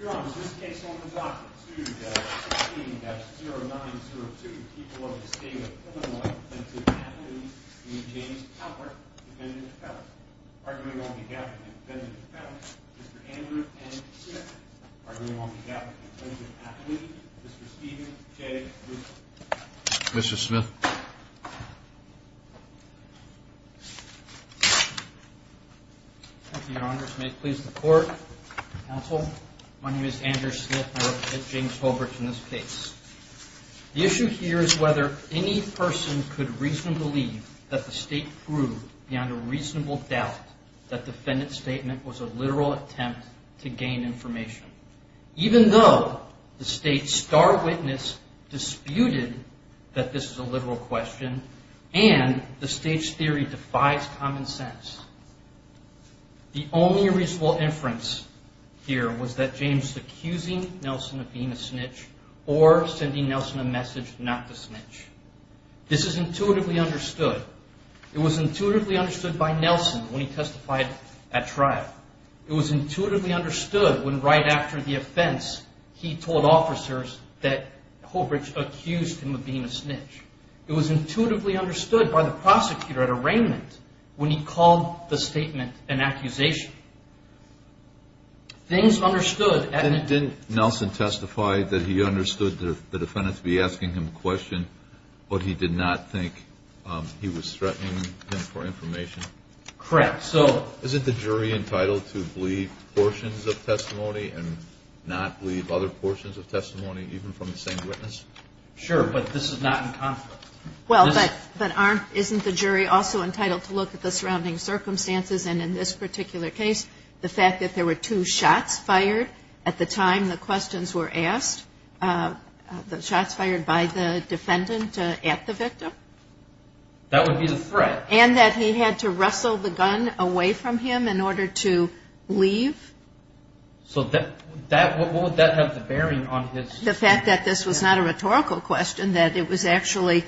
Your Honor, this case opens off at 2-16-0902. People of the State of Illinois Defensive Athlete, E. James Haubrich, defendant of felons. Arguing on behalf of the Defensive Felons, Mr. Andrew N. Smith. Arguing on behalf of the Defensive Athlete, Mr. Steven J. Russo. Mr. Smith. Thank you, Your Honors. May it please the Court, Counsel, my name is Andrew Smith and I represent James Haubrich in this case. The issue here is whether any person could reasonably believe that the State proved beyond a reasonable doubt that the defendant's statement was a literal attempt to gain information. Even though the State's star witness disputed that this is a literal question and the State's theory defies common sense. The only reasonable inference here was that James was accusing Nelson of being a snitch or sending Nelson a message not to snitch. This is intuitively understood. It was intuitively understood by Nelson when he testified at trial. It was intuitively understood when right after the offense he told officers that Haubrich accused him of being a snitch. It was intuitively understood by the prosecutor at arraignment when he called the statement an accusation. Things understood. Didn't Nelson testify that he understood the defendant to be asking him a question, but he did not think he was threatening him for information? Correct. Isn't the jury entitled to believe portions of testimony and not believe other portions of testimony, even from the same witness? Sure, but this is not in conflict. Well, but aren't, isn't the jury also entitled to look at the surrounding circumstances and in this particular case, the fact that there were two shots fired at the time the questions were asked? The shots fired by the defendant at the victim? That would be the threat. And that he had to wrestle the gun away from him in order to leave? So that, what would that have to bear on his... The fact that this was not a rhetorical question, that it was actually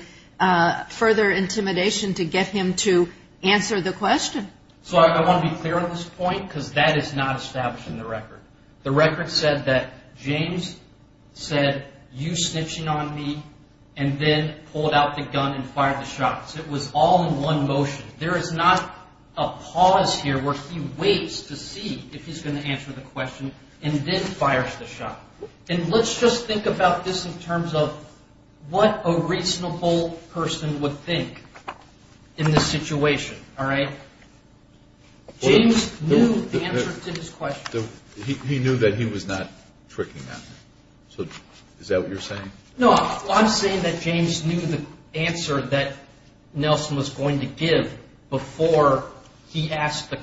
further intimidation to get him to answer the question. So I want to be clear on this point because that is not established in the record. The record said that James said, you snitching on me, and then pulled out the gun and fired the shots. It was all in one motion. There is not a pause here where he waits to see if he's going to answer the question and then fires the shot. And let's just think about this in terms of what a reasonable person would think in this situation, all right? James knew the answer to his question. He knew that he was not tricking on him. So is that what you're saying? No, I'm saying that James knew the answer that Nelson was going to give before he asked,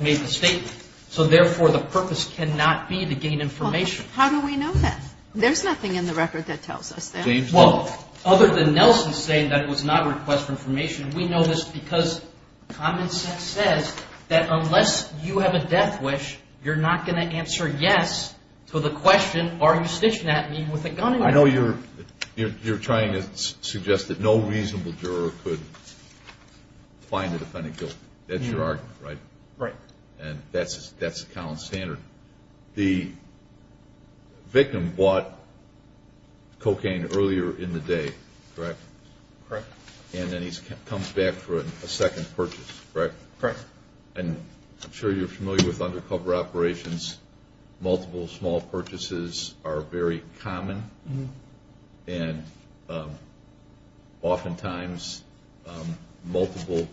made the statement. So therefore, the purpose cannot be to gain information. How do we know that? There's nothing in the record that tells us that. Well, other than Nelson saying that it was not a request for information, we know this because common sense says that unless you have a death wish, you're not going to answer yes to the question, are you snitching at me with a gun? I know you're trying to suggest that no reasonable juror could find the defendant guilty. That's your argument, right? Right. And that's a common standard. The victim bought cocaine earlier in the day, correct? Correct. And then he comes back for a second purchase, correct? Correct. And I'm sure you're familiar with undercover operations. Multiple small purchases are very common. And oftentimes multiple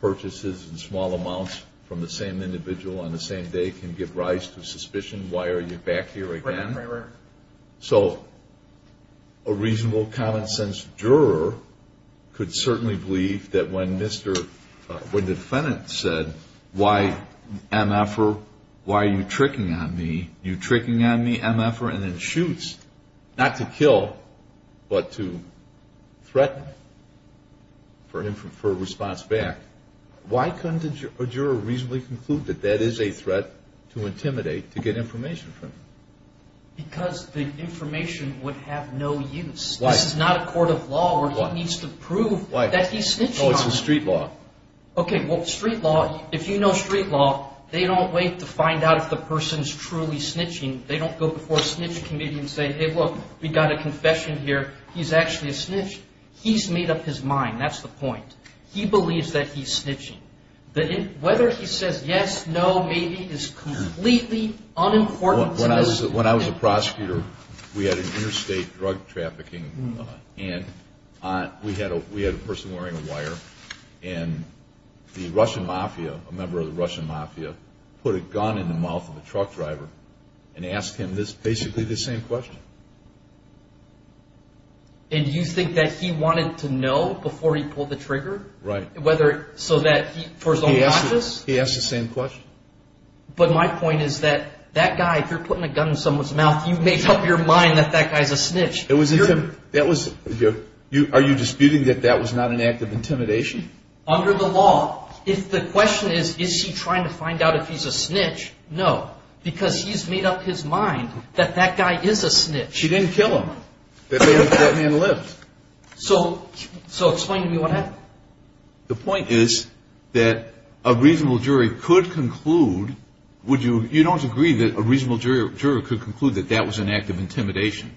purchases in small amounts from the same individual on the same day can give rise to suspicion. Why are you back here again? Right, right, right. So a reasonable common sense juror could certainly believe that when the defendant said, why MFR, why are you tricking on me? You're tricking on me, MFR, and then shoots, not to kill but to threaten for a response back. Why couldn't a juror reasonably conclude that that is a threat to intimidate to get information from? Because the information would have no use. Why? This is not a court of law where he needs to prove that he's snitching on me. No, it's a street law. Okay, well, street law, if you know street law, they don't wait to find out if the person is truly snitching. They don't go before a snitch committee and say, hey, look, we've got a confession here. He's actually a snitch. He's made up his mind. That's the point. He believes that he's snitching. Whether he says yes, no, maybe is completely unimportant. When I was a prosecutor, we had an interstate drug trafficking. And we had a person wearing a wire. And the Russian mafia, a member of the Russian mafia, put a gun in the mouth of a truck driver and asked him basically the same question. And you think that he wanted to know before he pulled the trigger? Right. So that he, for his own watches? He asked the same question. But my point is that that guy, if you're putting a gun in someone's mouth, you make up your mind that that guy's a snitch. Are you disputing that that was not an act of intimidation? Under the law, if the question is, is he trying to find out if he's a snitch? No, because he's made up his mind that that guy is a snitch. She didn't kill him. That man lived. So explain to me what happened. The point is that a reasonable jury could conclude. You don't agree that a reasonable jury could conclude that that was an act of intimidation?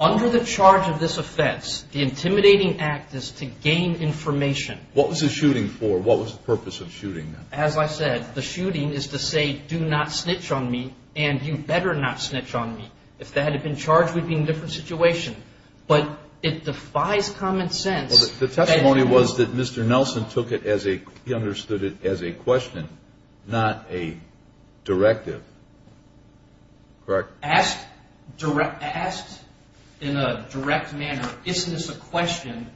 Under the charge of this offense, the intimidating act is to gain information. What was the shooting for? What was the purpose of shooting? As I said, the shooting is to say, do not snitch on me, and you better not snitch on me. If that had been charged, we'd be in a different situation. But it defies common sense. The testimony was that Mr. Nelson took it as a, he understood it as a question, not a directive. Correct. Asked in a direct manner, isn't this a question?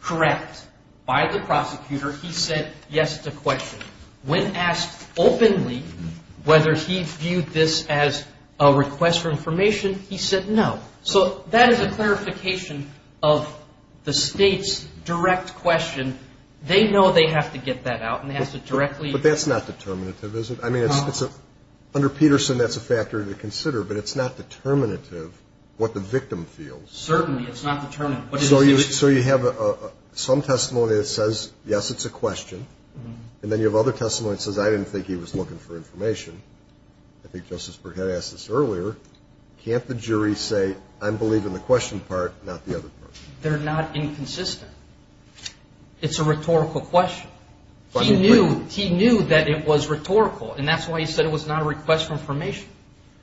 Correct. By the prosecutor, he said, yes, it's a question. When asked openly whether he viewed this as a request for information, he said no. So that is a clarification of the state's direct question. They know they have to get that out, and they have to directly. But that's not determinative, is it? I mean, under Peterson, that's a factor to consider, but it's not determinative what the victim feels. Certainly, it's not determinative. So you have some testimony that says, yes, it's a question, and then you have other testimony that says, I didn't think he was looking for information. I think Justice Burkett asked this earlier. Can't the jury say, I believe in the question part, not the other part? They're not inconsistent. It's a rhetorical question. He knew that it was rhetorical, and that's why he said it was not a request for information.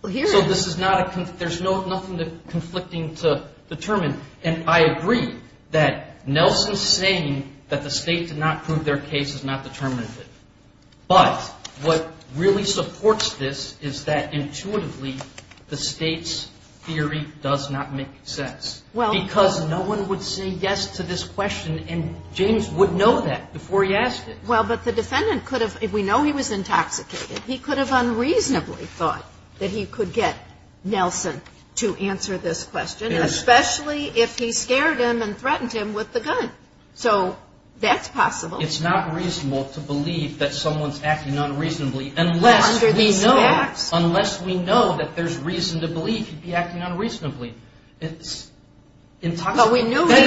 So this is not a, there's nothing conflicting to determine. And I agree that Nelson's saying that the state did not prove their case is not determinative. But what really supports this is that intuitively the state's theory does not make sense. Because no one would say yes to this question, and James would know that before he asked it. Well, but the defendant could have, we know he was intoxicated. He could have unreasonably thought that he could get Nelson to answer this question, especially if he scared him and threatened him with the gun. So that's possible. It's not reasonable to believe that someone's acting unreasonably unless we know, unless we know that there's reason to believe he'd be acting unreasonably. It's intoxicated. That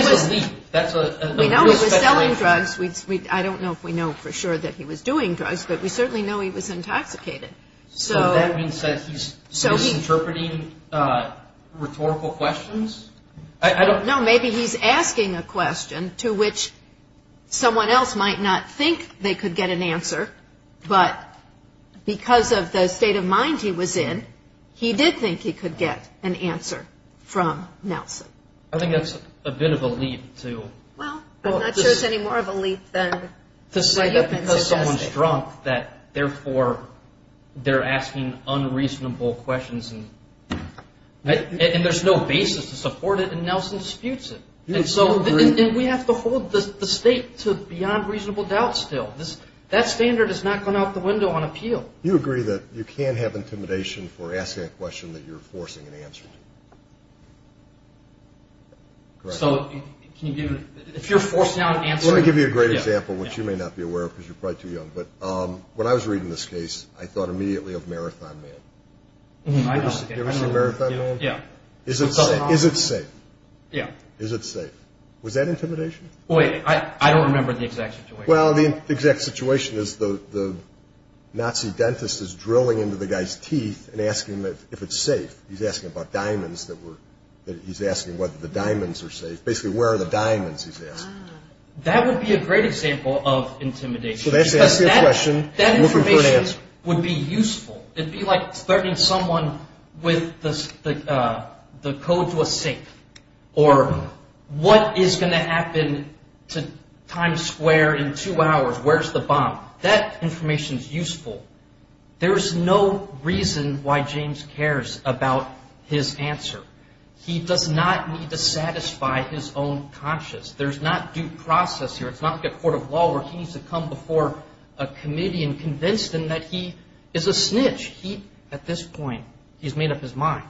is a leap. We know he was selling drugs. I don't know if we know for sure that he was doing drugs, but we certainly know he was intoxicated. So that means that he's misinterpreting rhetorical questions? No, maybe he's asking a question to which someone else might not think they could get an answer, but because of the state of mind he was in, he did think he could get an answer from Nelson. I think that's a bit of a leap, too. Well, I'm not sure it's any more of a leap than the defense is asking. To say that because someone's drunk that, therefore, they're asking unreasonable questions. And there's no basis to support it, and Nelson disputes it. And so we have to hold the state to beyond reasonable doubt still. That standard has not gone out the window on appeal. You agree that you can't have intimidation for asking a question that you're forcing an answer to? Correct. So if you're forcing out an answer. Let me give you a great example, which you may not be aware of because you're probably too young. But when I was reading this case, I thought immediately of Marathon Man. You ever see Marathon Man? Yeah. Is it safe? Yeah. Is it safe? Was that intimidation? Wait, I don't remember the exact situation. Well, the exact situation is the Nazi dentist is drilling into the guy's teeth and asking if it's safe. He's asking about diamonds. He's asking whether the diamonds are safe. Basically, where are the diamonds, he's asking. That would be a great example of intimidation. That information would be useful. It would be like starting someone with the code to a safe or what is going to happen to Times Square in two hours. Where's the bomb? That information is useful. There is no reason why James cares about his answer. He does not need to satisfy his own conscience. There's not due process here. It's not like a court of law where he needs to come before a committee and convince them that he is a snitch. At this point, he's made up his mind.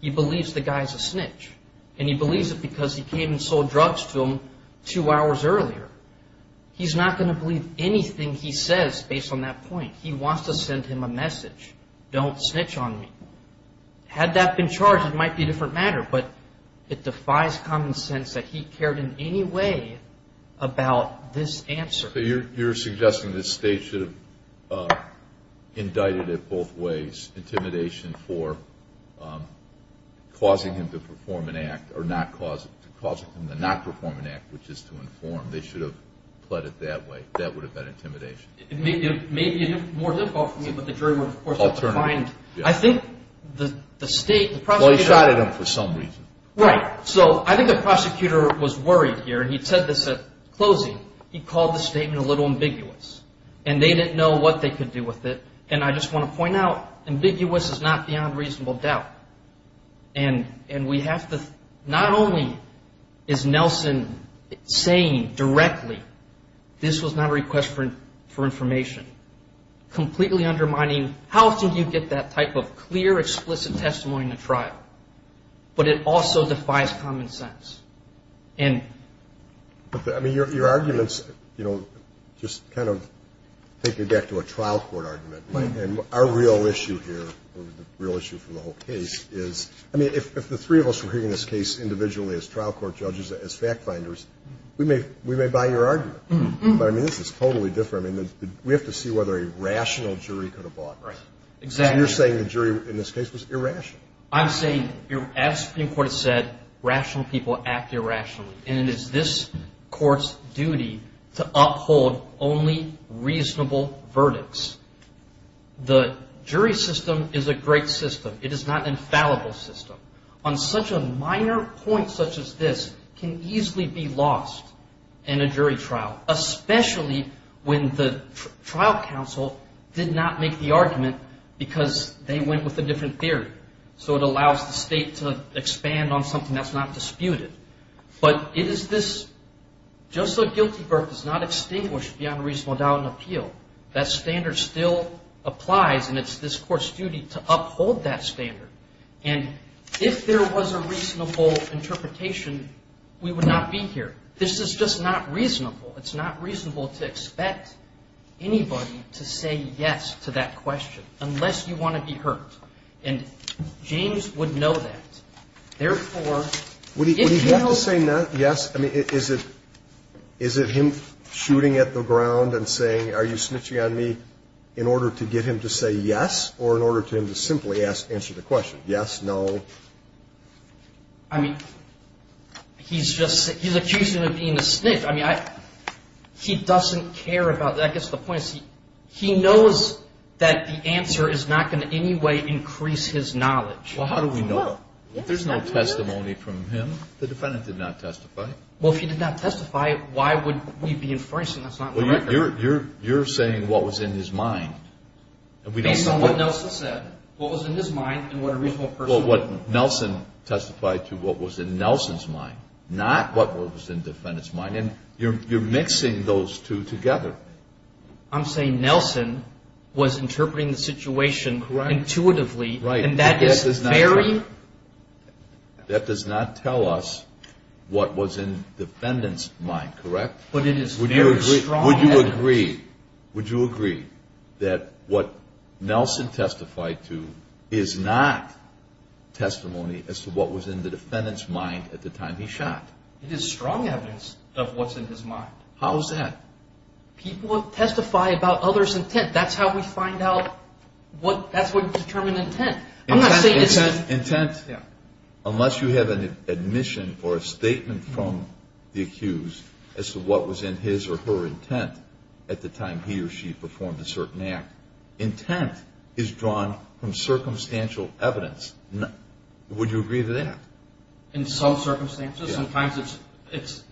He believes the guy is a snitch, and he believes it because he came and sold drugs to him two hours earlier. He's not going to believe anything he says based on that point. He wants to send him a message, don't snitch on me. Had that been charged, it might be a different matter, but it defies common sense that he cared in any way about this answer. So you're suggesting the state should have indicted it both ways, intimidation for causing him to perform an act or not causing him to not perform an act, which is to inform. They should have pled it that way. That would have been intimidation. It may be more difficult for me, but the jury would, of course, have to find. I think the state, the prosecutor. Well, he shot at him for some reason. Right. So I think the prosecutor was worried here, and he said this at closing. He called the statement a little ambiguous, and they didn't know what they could do with it. And I just want to point out, ambiguous is not beyond reasonable doubt. And we have to not only is Nelson saying directly this was not a request for information, completely undermining how can you get that type of clear, explicit testimony in a trial, but it also defies common sense. I mean, your arguments, you know, just kind of take me back to a trial court argument. And our real issue here, the real issue for the whole case is, I mean, if the three of us were hearing this case individually as trial court judges, as fact finders, we may buy your argument. But, I mean, this is totally different. I mean, we have to see whether a rational jury could have bought this. Right. Exactly. Because you're saying the jury in this case was irrational. I'm saying, as the Supreme Court has said, rational people act irrationally. And it is this Court's duty to uphold only reasonable verdicts. The jury system is a great system. It is not an infallible system. On such a minor point such as this can easily be lost in a jury trial, especially when the trial counsel did not make the argument because they went with a different theory. So it allows the State to expand on something that's not disputed. But it is this, just so guilty verdict is not extinguished beyond a reasonable doubt and appeal, that standard still applies, and it's this Court's duty to uphold that standard. And if there was a reasonable interpretation, we would not be here. This is just not reasonable. It's not reasonable to expect anybody to say yes to that question unless you want to be hurt. And James would know that. Therefore, if you don't say yes, I mean, is it him shooting at the ground and saying, are you snitching on me in order to get him to say yes or in order for him to simply answer the question, yes, no? I mean, he's just accusing me of being a snitch. I mean, he doesn't care about that. I guess the point is he knows that the answer is not going to in any way increase his knowledge. Well, how do we know? There's no testimony from him. The defendant did not testify. Well, if he did not testify, why would we be enforcing this? Well, you're saying what was in his mind. Based on what Nelson said, what was in his mind and what a reasonable person would do. Well, what Nelson testified to what was in Nelson's mind, not what was in the defendant's mind. And you're mixing those two together. I'm saying Nelson was interpreting the situation intuitively. Right. And that is very... That does not tell us what was in the defendant's mind, correct? But it is very strong evidence. Would you agree that what Nelson testified to is not testimony as to what was in the defendant's mind at the time he shot? It is strong evidence of what's in his mind. How is that? People testify about others' intent. That's how we find out what determined intent. Unless you have an admission or a statement from the accused as to what was in his or her intent at the time he or she performed a certain act, intent is drawn from circumstantial evidence. Would you agree to that? In some circumstances. Sometimes it's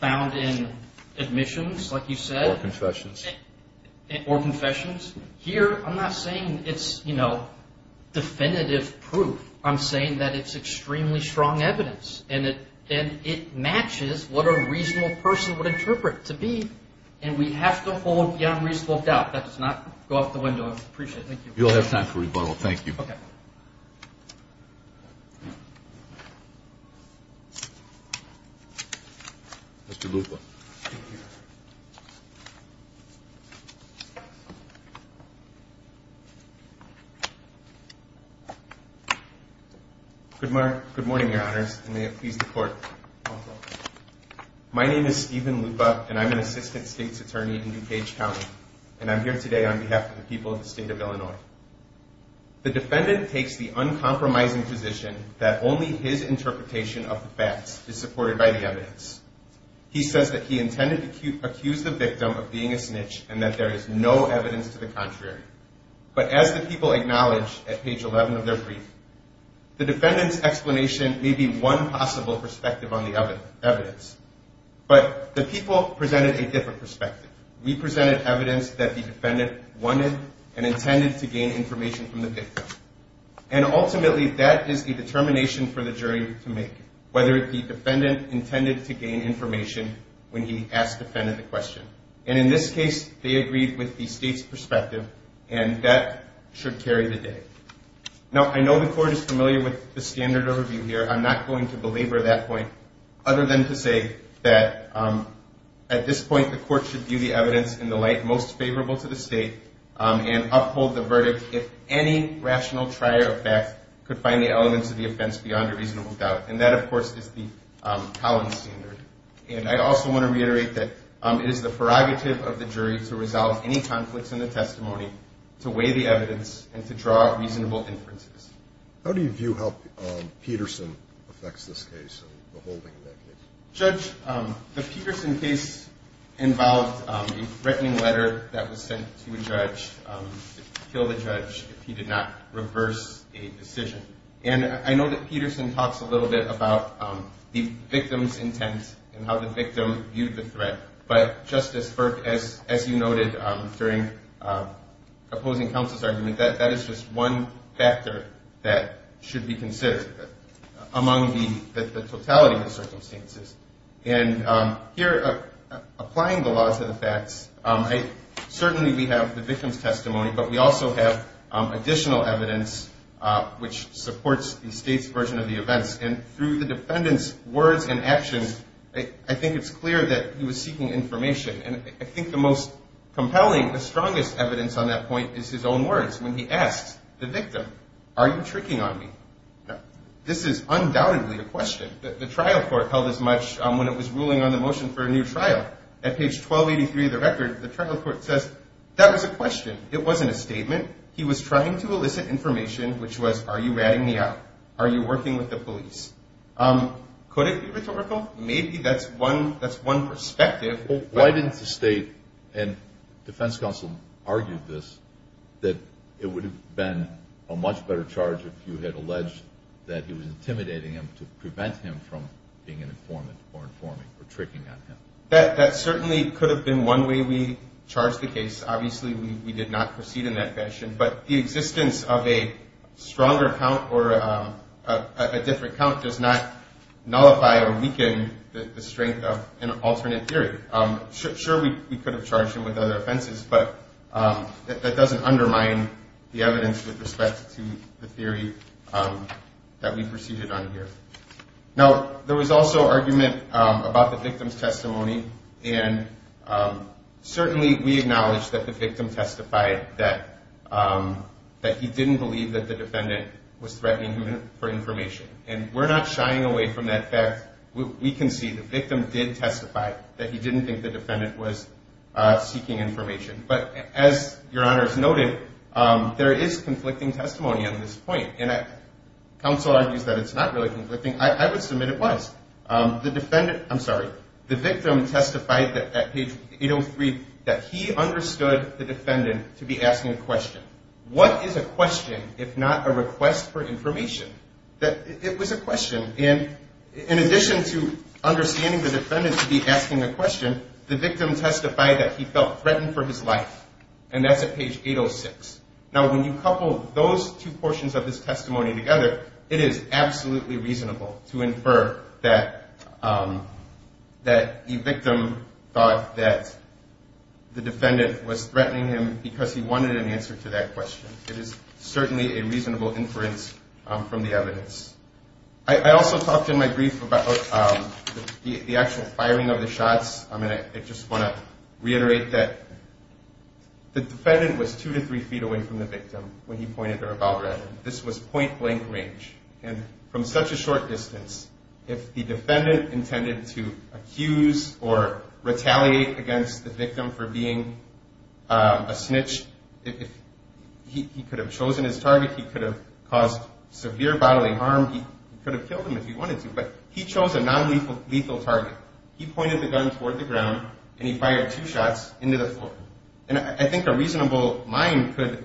found in admissions, like you said. Or confessions. Or confessions. Here, I'm not saying it's, you know, definitive proof. I'm saying that it's extremely strong evidence. And it matches what a reasonable person would interpret to be. And we have to hold beyond reasonable doubt. That does not go out the window. I appreciate it. Thank you. You'll have time for rebuttal. Thank you. Okay. Mr. Lupa. Thank you. Good morning, Your Honors. And may it please the Court. My name is Steven Lupa, and I'm an assistant state's attorney in DuPage County. And I'm here today on behalf of the people of the state of Illinois. The defendant takes the uncompromising position that only his interpretation of the facts is supported by the evidence. He says that he intended to accuse the victim of being a snitch and that there is no evidence to the contrary. But as the people acknowledge at page 11 of their brief, the defendant's explanation may be one possible perspective on the evidence. But the people presented a different perspective. We presented evidence that the defendant wanted and intended to gain information from the victim. And ultimately, that is the determination for the jury to make, whether the defendant intended to gain information when he asked the defendant the question. And in this case, they agreed with the state's perspective, and that should carry the day. Now, I know the Court is familiar with the standard overview here. I'm not going to belabor that point, other than to say that at this point, the Court should view the evidence in the light most favorable to the state and uphold the verdict if any rational trier of facts could find the elements of the offense beyond a reasonable doubt. And that, of course, is the Collins standard. And I also want to reiterate that it is the prerogative of the jury to resolve any conflicts in the testimony, to weigh the evidence, and to draw reasonable inferences. How do you view how Peterson affects this case and the holding of that case? Judge, the Peterson case involved a threatening letter that was sent to a judge to kill the judge if he did not reverse a decision. And I know that Peterson talks a little bit about the victim's intent and how the victim viewed the threat. But, Justice Burke, as you noted during opposing counsel's argument, that is just one factor that should be considered among the totality of the circumstances. And here, applying the law to the facts, certainly we have the victim's testimony, but we also have additional evidence which supports the state's version of the events. And through the defendant's words and actions, I think it's clear that he was seeking information. And I think the most compelling, the strongest evidence on that point is his own words when he asks the victim, are you tricking on me? This is undoubtedly a question. The trial court held as much when it was ruling on the motion for a new trial. At page 1283 of the record, the trial court says, that was a question. It wasn't a statement. He was trying to elicit information which was, are you ratting me out? Are you working with the police? Could it be rhetorical? Maybe that's one perspective. Why didn't the state and defense counsel argue this, that it would have been a much better charge if you had alleged that he was intimidating him to prevent him from being an informant or informing or tricking on him? That certainly could have been one way we charged the case. Obviously, we did not proceed in that fashion. But the existence of a stronger count or a different count does not nullify or weaken the strength of an alternate theory. Sure, we could have charged him with other offenses, but that doesn't undermine the evidence with respect to the theory that we proceeded on here. Now, there was also argument about the victim's testimony. And certainly, we acknowledge that the victim testified that he didn't believe that the defendant was threatening him for information. And we're not shying away from that fact. We can see the victim did testify that he didn't think the defendant was seeking information. But as Your Honor has noted, there is conflicting testimony on this point. And counsel argues that it's not really conflicting. I would submit it was. I'm sorry. The victim testified at page 803 that he understood the defendant to be asking a question. What is a question if not a request for information? It was a question. And in addition to understanding the defendant to be asking a question, the victim testified that he felt threatened for his life. And that's at page 806. Now, when you couple those two portions of this testimony together, it is absolutely reasonable to infer that the victim thought that the defendant was threatening him because he wanted an answer to that question. It is certainly a reasonable inference from the evidence. I also talked in my brief about the actual firing of the shots. I just want to reiterate that the defendant was two to three feet away from the victim when he pointed a revolver at him. This was point-blank range. And from such a short distance, if the defendant intended to accuse or retaliate against the victim for being a snitch, he could have chosen his target. He could have caused severe bodily harm. He could have killed him if he wanted to. But he chose a nonlethal target. He pointed the gun toward the ground, and he fired two shots into the floor. And I think a reasonable mind could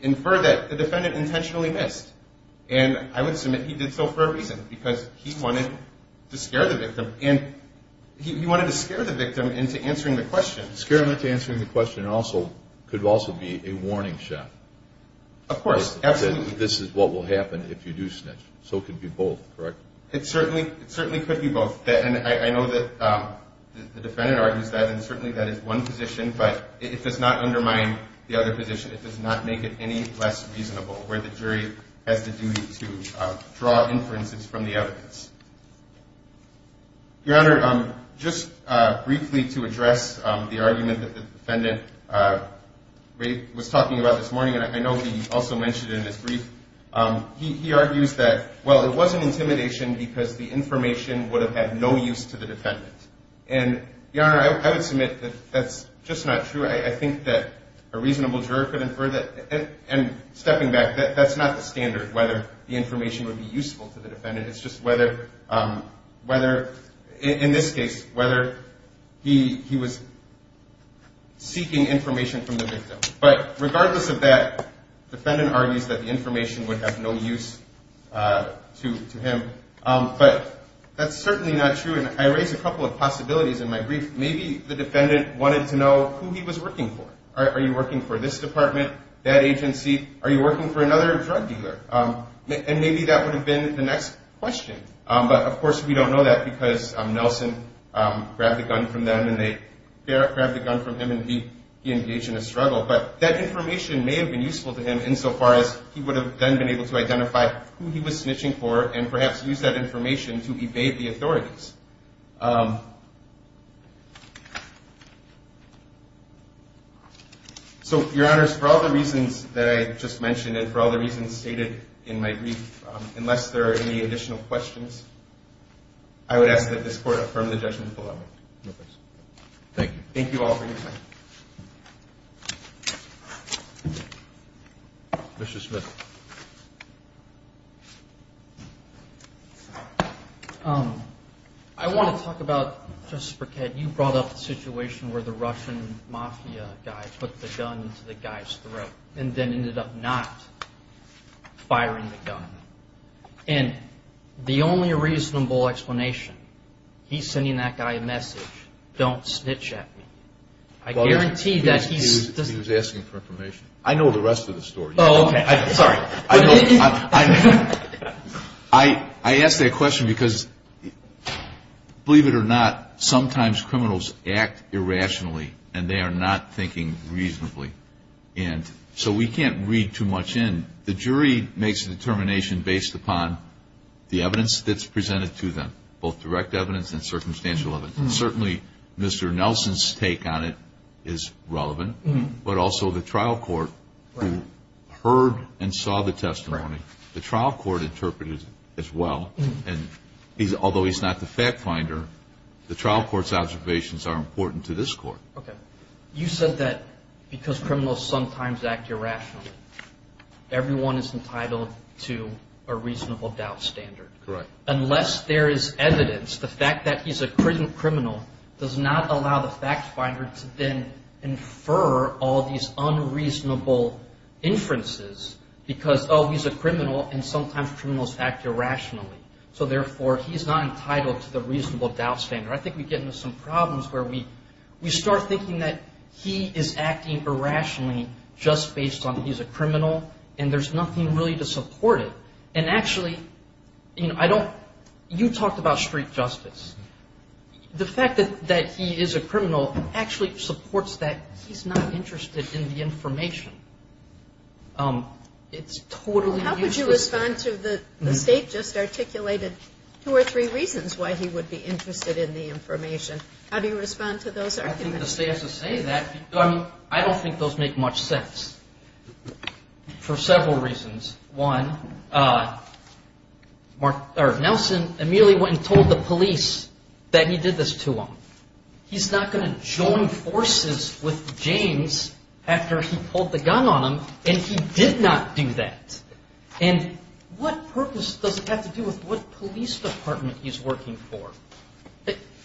infer that the defendant intentionally missed. And I would submit he did so for a reason, because he wanted to scare the victim. And he wanted to scare the victim into answering the question. Scare him into answering the question could also be a warning shot. Of course, absolutely. That this is what will happen if you do snitch. So it could be both, correct? It certainly could be both. And I know that the defendant argues that, and certainly that is one position, but it does not undermine the other position. It does not make it any less reasonable where the jury has the duty to draw inferences from the evidence. Your Honor, just briefly to address the argument that the defendant was talking about this morning, and I know he also mentioned it in his brief, he argues that, well, it was an intimidation because the information would have had no use to the defendant. And, Your Honor, I would submit that that's just not true. I think that a reasonable juror could infer that. And stepping back, that's not the standard, whether the information would be useful to the defendant. It's just whether, in this case, whether he was seeking information from the victim. But regardless of that, the defendant argues that the information would have no use to him. But that's certainly not true. And I raised a couple of possibilities in my brief. Maybe the defendant wanted to know who he was working for. Are you working for this department, that agency? Are you working for another drug dealer? And maybe that would have been the next question. But, of course, we don't know that because Nelson grabbed the gun from them, and they grabbed the gun from him, and he engaged in a struggle. But that information may have been useful to him, insofar as he would have then been able to identify who he was snitching for and perhaps use that information to evade the authorities. So, Your Honors, for all the reasons that I just mentioned and for all the reasons stated in my brief, unless there are any additional questions, I would ask that this Court affirm the judgment below me. Thank you. Thank you all for your time. Mr. Smith. I want to talk about, Justice Burkett, you brought up the situation where the Russian mafia guy put the gun into the guy's throat and then ended up not firing the gun. And the only reasonable explanation, he's sending that guy a message, don't snitch at me. I guarantee that he's... He was asking for information. I know the rest of the story. Oh, okay. Sorry. I asked that question because, believe it or not, sometimes criminals act irrationally, and they are not thinking reasonably. And so we can't read too much in. The jury makes a determination based upon the evidence that's presented to them, both direct evidence and circumstantial evidence. And certainly Mr. Nelson's take on it is relevant, but also the trial court who heard and saw the testimony. The trial court interpreted it as well. And although he's not the fact finder, the trial court's observations are important to this court. Okay. You said that because criminals sometimes act irrationally, everyone is entitled to a reasonable doubt standard. Correct. Unless there is evidence, the fact that he's a criminal does not allow the fact finder to then infer all these unreasonable inferences because, oh, he's a criminal, and sometimes criminals act irrationally. So, therefore, he's not entitled to the reasonable doubt standard. I think we get into some problems where we start thinking that he is acting irrationally just based on he's a criminal, and there's nothing really to support it. And, actually, you talked about street justice. The fact that he is a criminal actually supports that he's not interested in the information. It's totally useless. The State just articulated two or three reasons why he would be interested in the information. How do you respond to those arguments? I think the State has to say that because I don't think those make much sense for several reasons. One, Nelson immediately went and told the police that he did this to him. He's not going to join forces with James after he pulled the gun on him, and he did not do that. And what purpose does it have to do with what police department he's working for?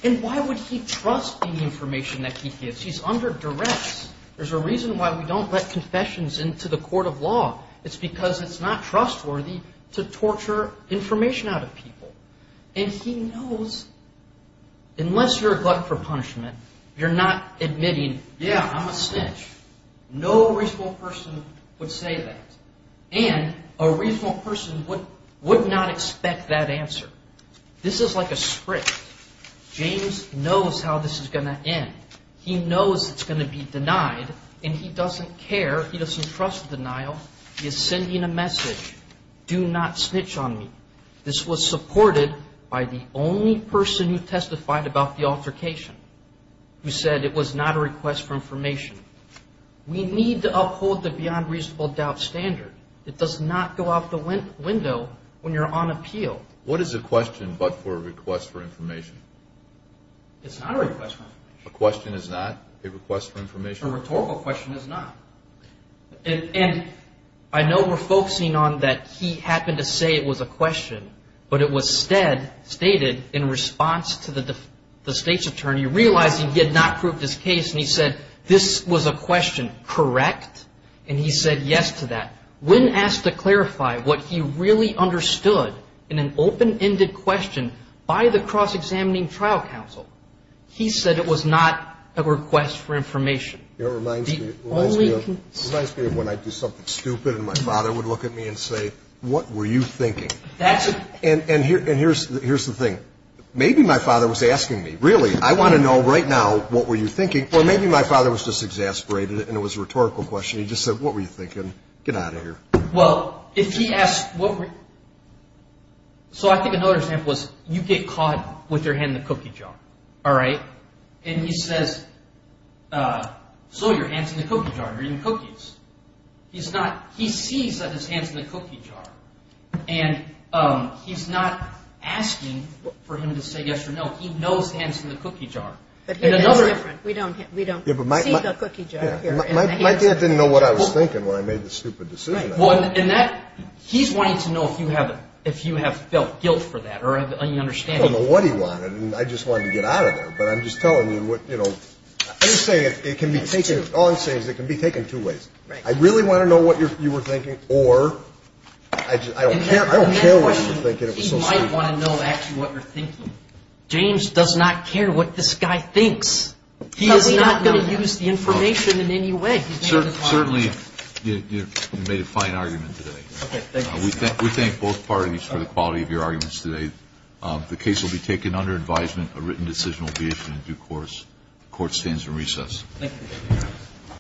And why would he trust the information that he gives? He's under directs. There's a reason why we don't let confessions into the court of law. It's because it's not trustworthy to torture information out of people. And he knows, unless you're a glut for punishment, you're not admitting, yeah, I'm a snitch. No reasonable person would say that, and a reasonable person would not expect that answer. This is like a script. James knows how this is going to end. He knows it's going to be denied, and he doesn't care. He doesn't trust denial. He is sending a message. Do not snitch on me. This was supported by the only person who testified about the altercation, who said it was not a request for information. We need to uphold the beyond reasonable doubt standard. It does not go out the window when you're on appeal. What is a question but for a request for information? It's not a request for information. A question is not a request for information. A rhetorical question is not. And I know we're focusing on that he happened to say it was a question, but it was stated in response to the State's attorney realizing he had not proved his case, and he said this was a question, correct? And he said yes to that. When asked to clarify what he really understood in an open-ended question by the cross-examining trial counsel, he said it was not a request for information. It reminds me of when I do something stupid and my father would look at me and say, what were you thinking? And here's the thing. Maybe my father was asking me, really, I want to know right now what were you thinking, or maybe my father was just exasperated and it was a rhetorical question. He just said, what were you thinking? Get out of here. Well, if he asked what were you thinking? So I think another example is you get caught with your hand in the cookie jar, all right? And he says, slow your hands in the cookie jar. You're eating cookies. He sees that his hand's in the cookie jar, and he's not asking for him to say yes or no. He knows his hand's in the cookie jar. We don't see the cookie jar here. My dad didn't know what I was thinking when I made the stupid decision. He's wanting to know if you have felt guilt for that or any understanding. I don't know what he wanted, and I just wanted to get out of there. All I'm saying is it can be taken two ways. I really want to know what you were thinking, or I don't care what you were thinking. He might want to know actually what you're thinking. James does not care what this guy thinks. He is not going to use the information in any way. Certainly, you made a fine argument today. We thank both parties for the quality of your arguments today. The case will be taken under advisement. A written decision will be issued in due course. Court stands in recess. Thank you.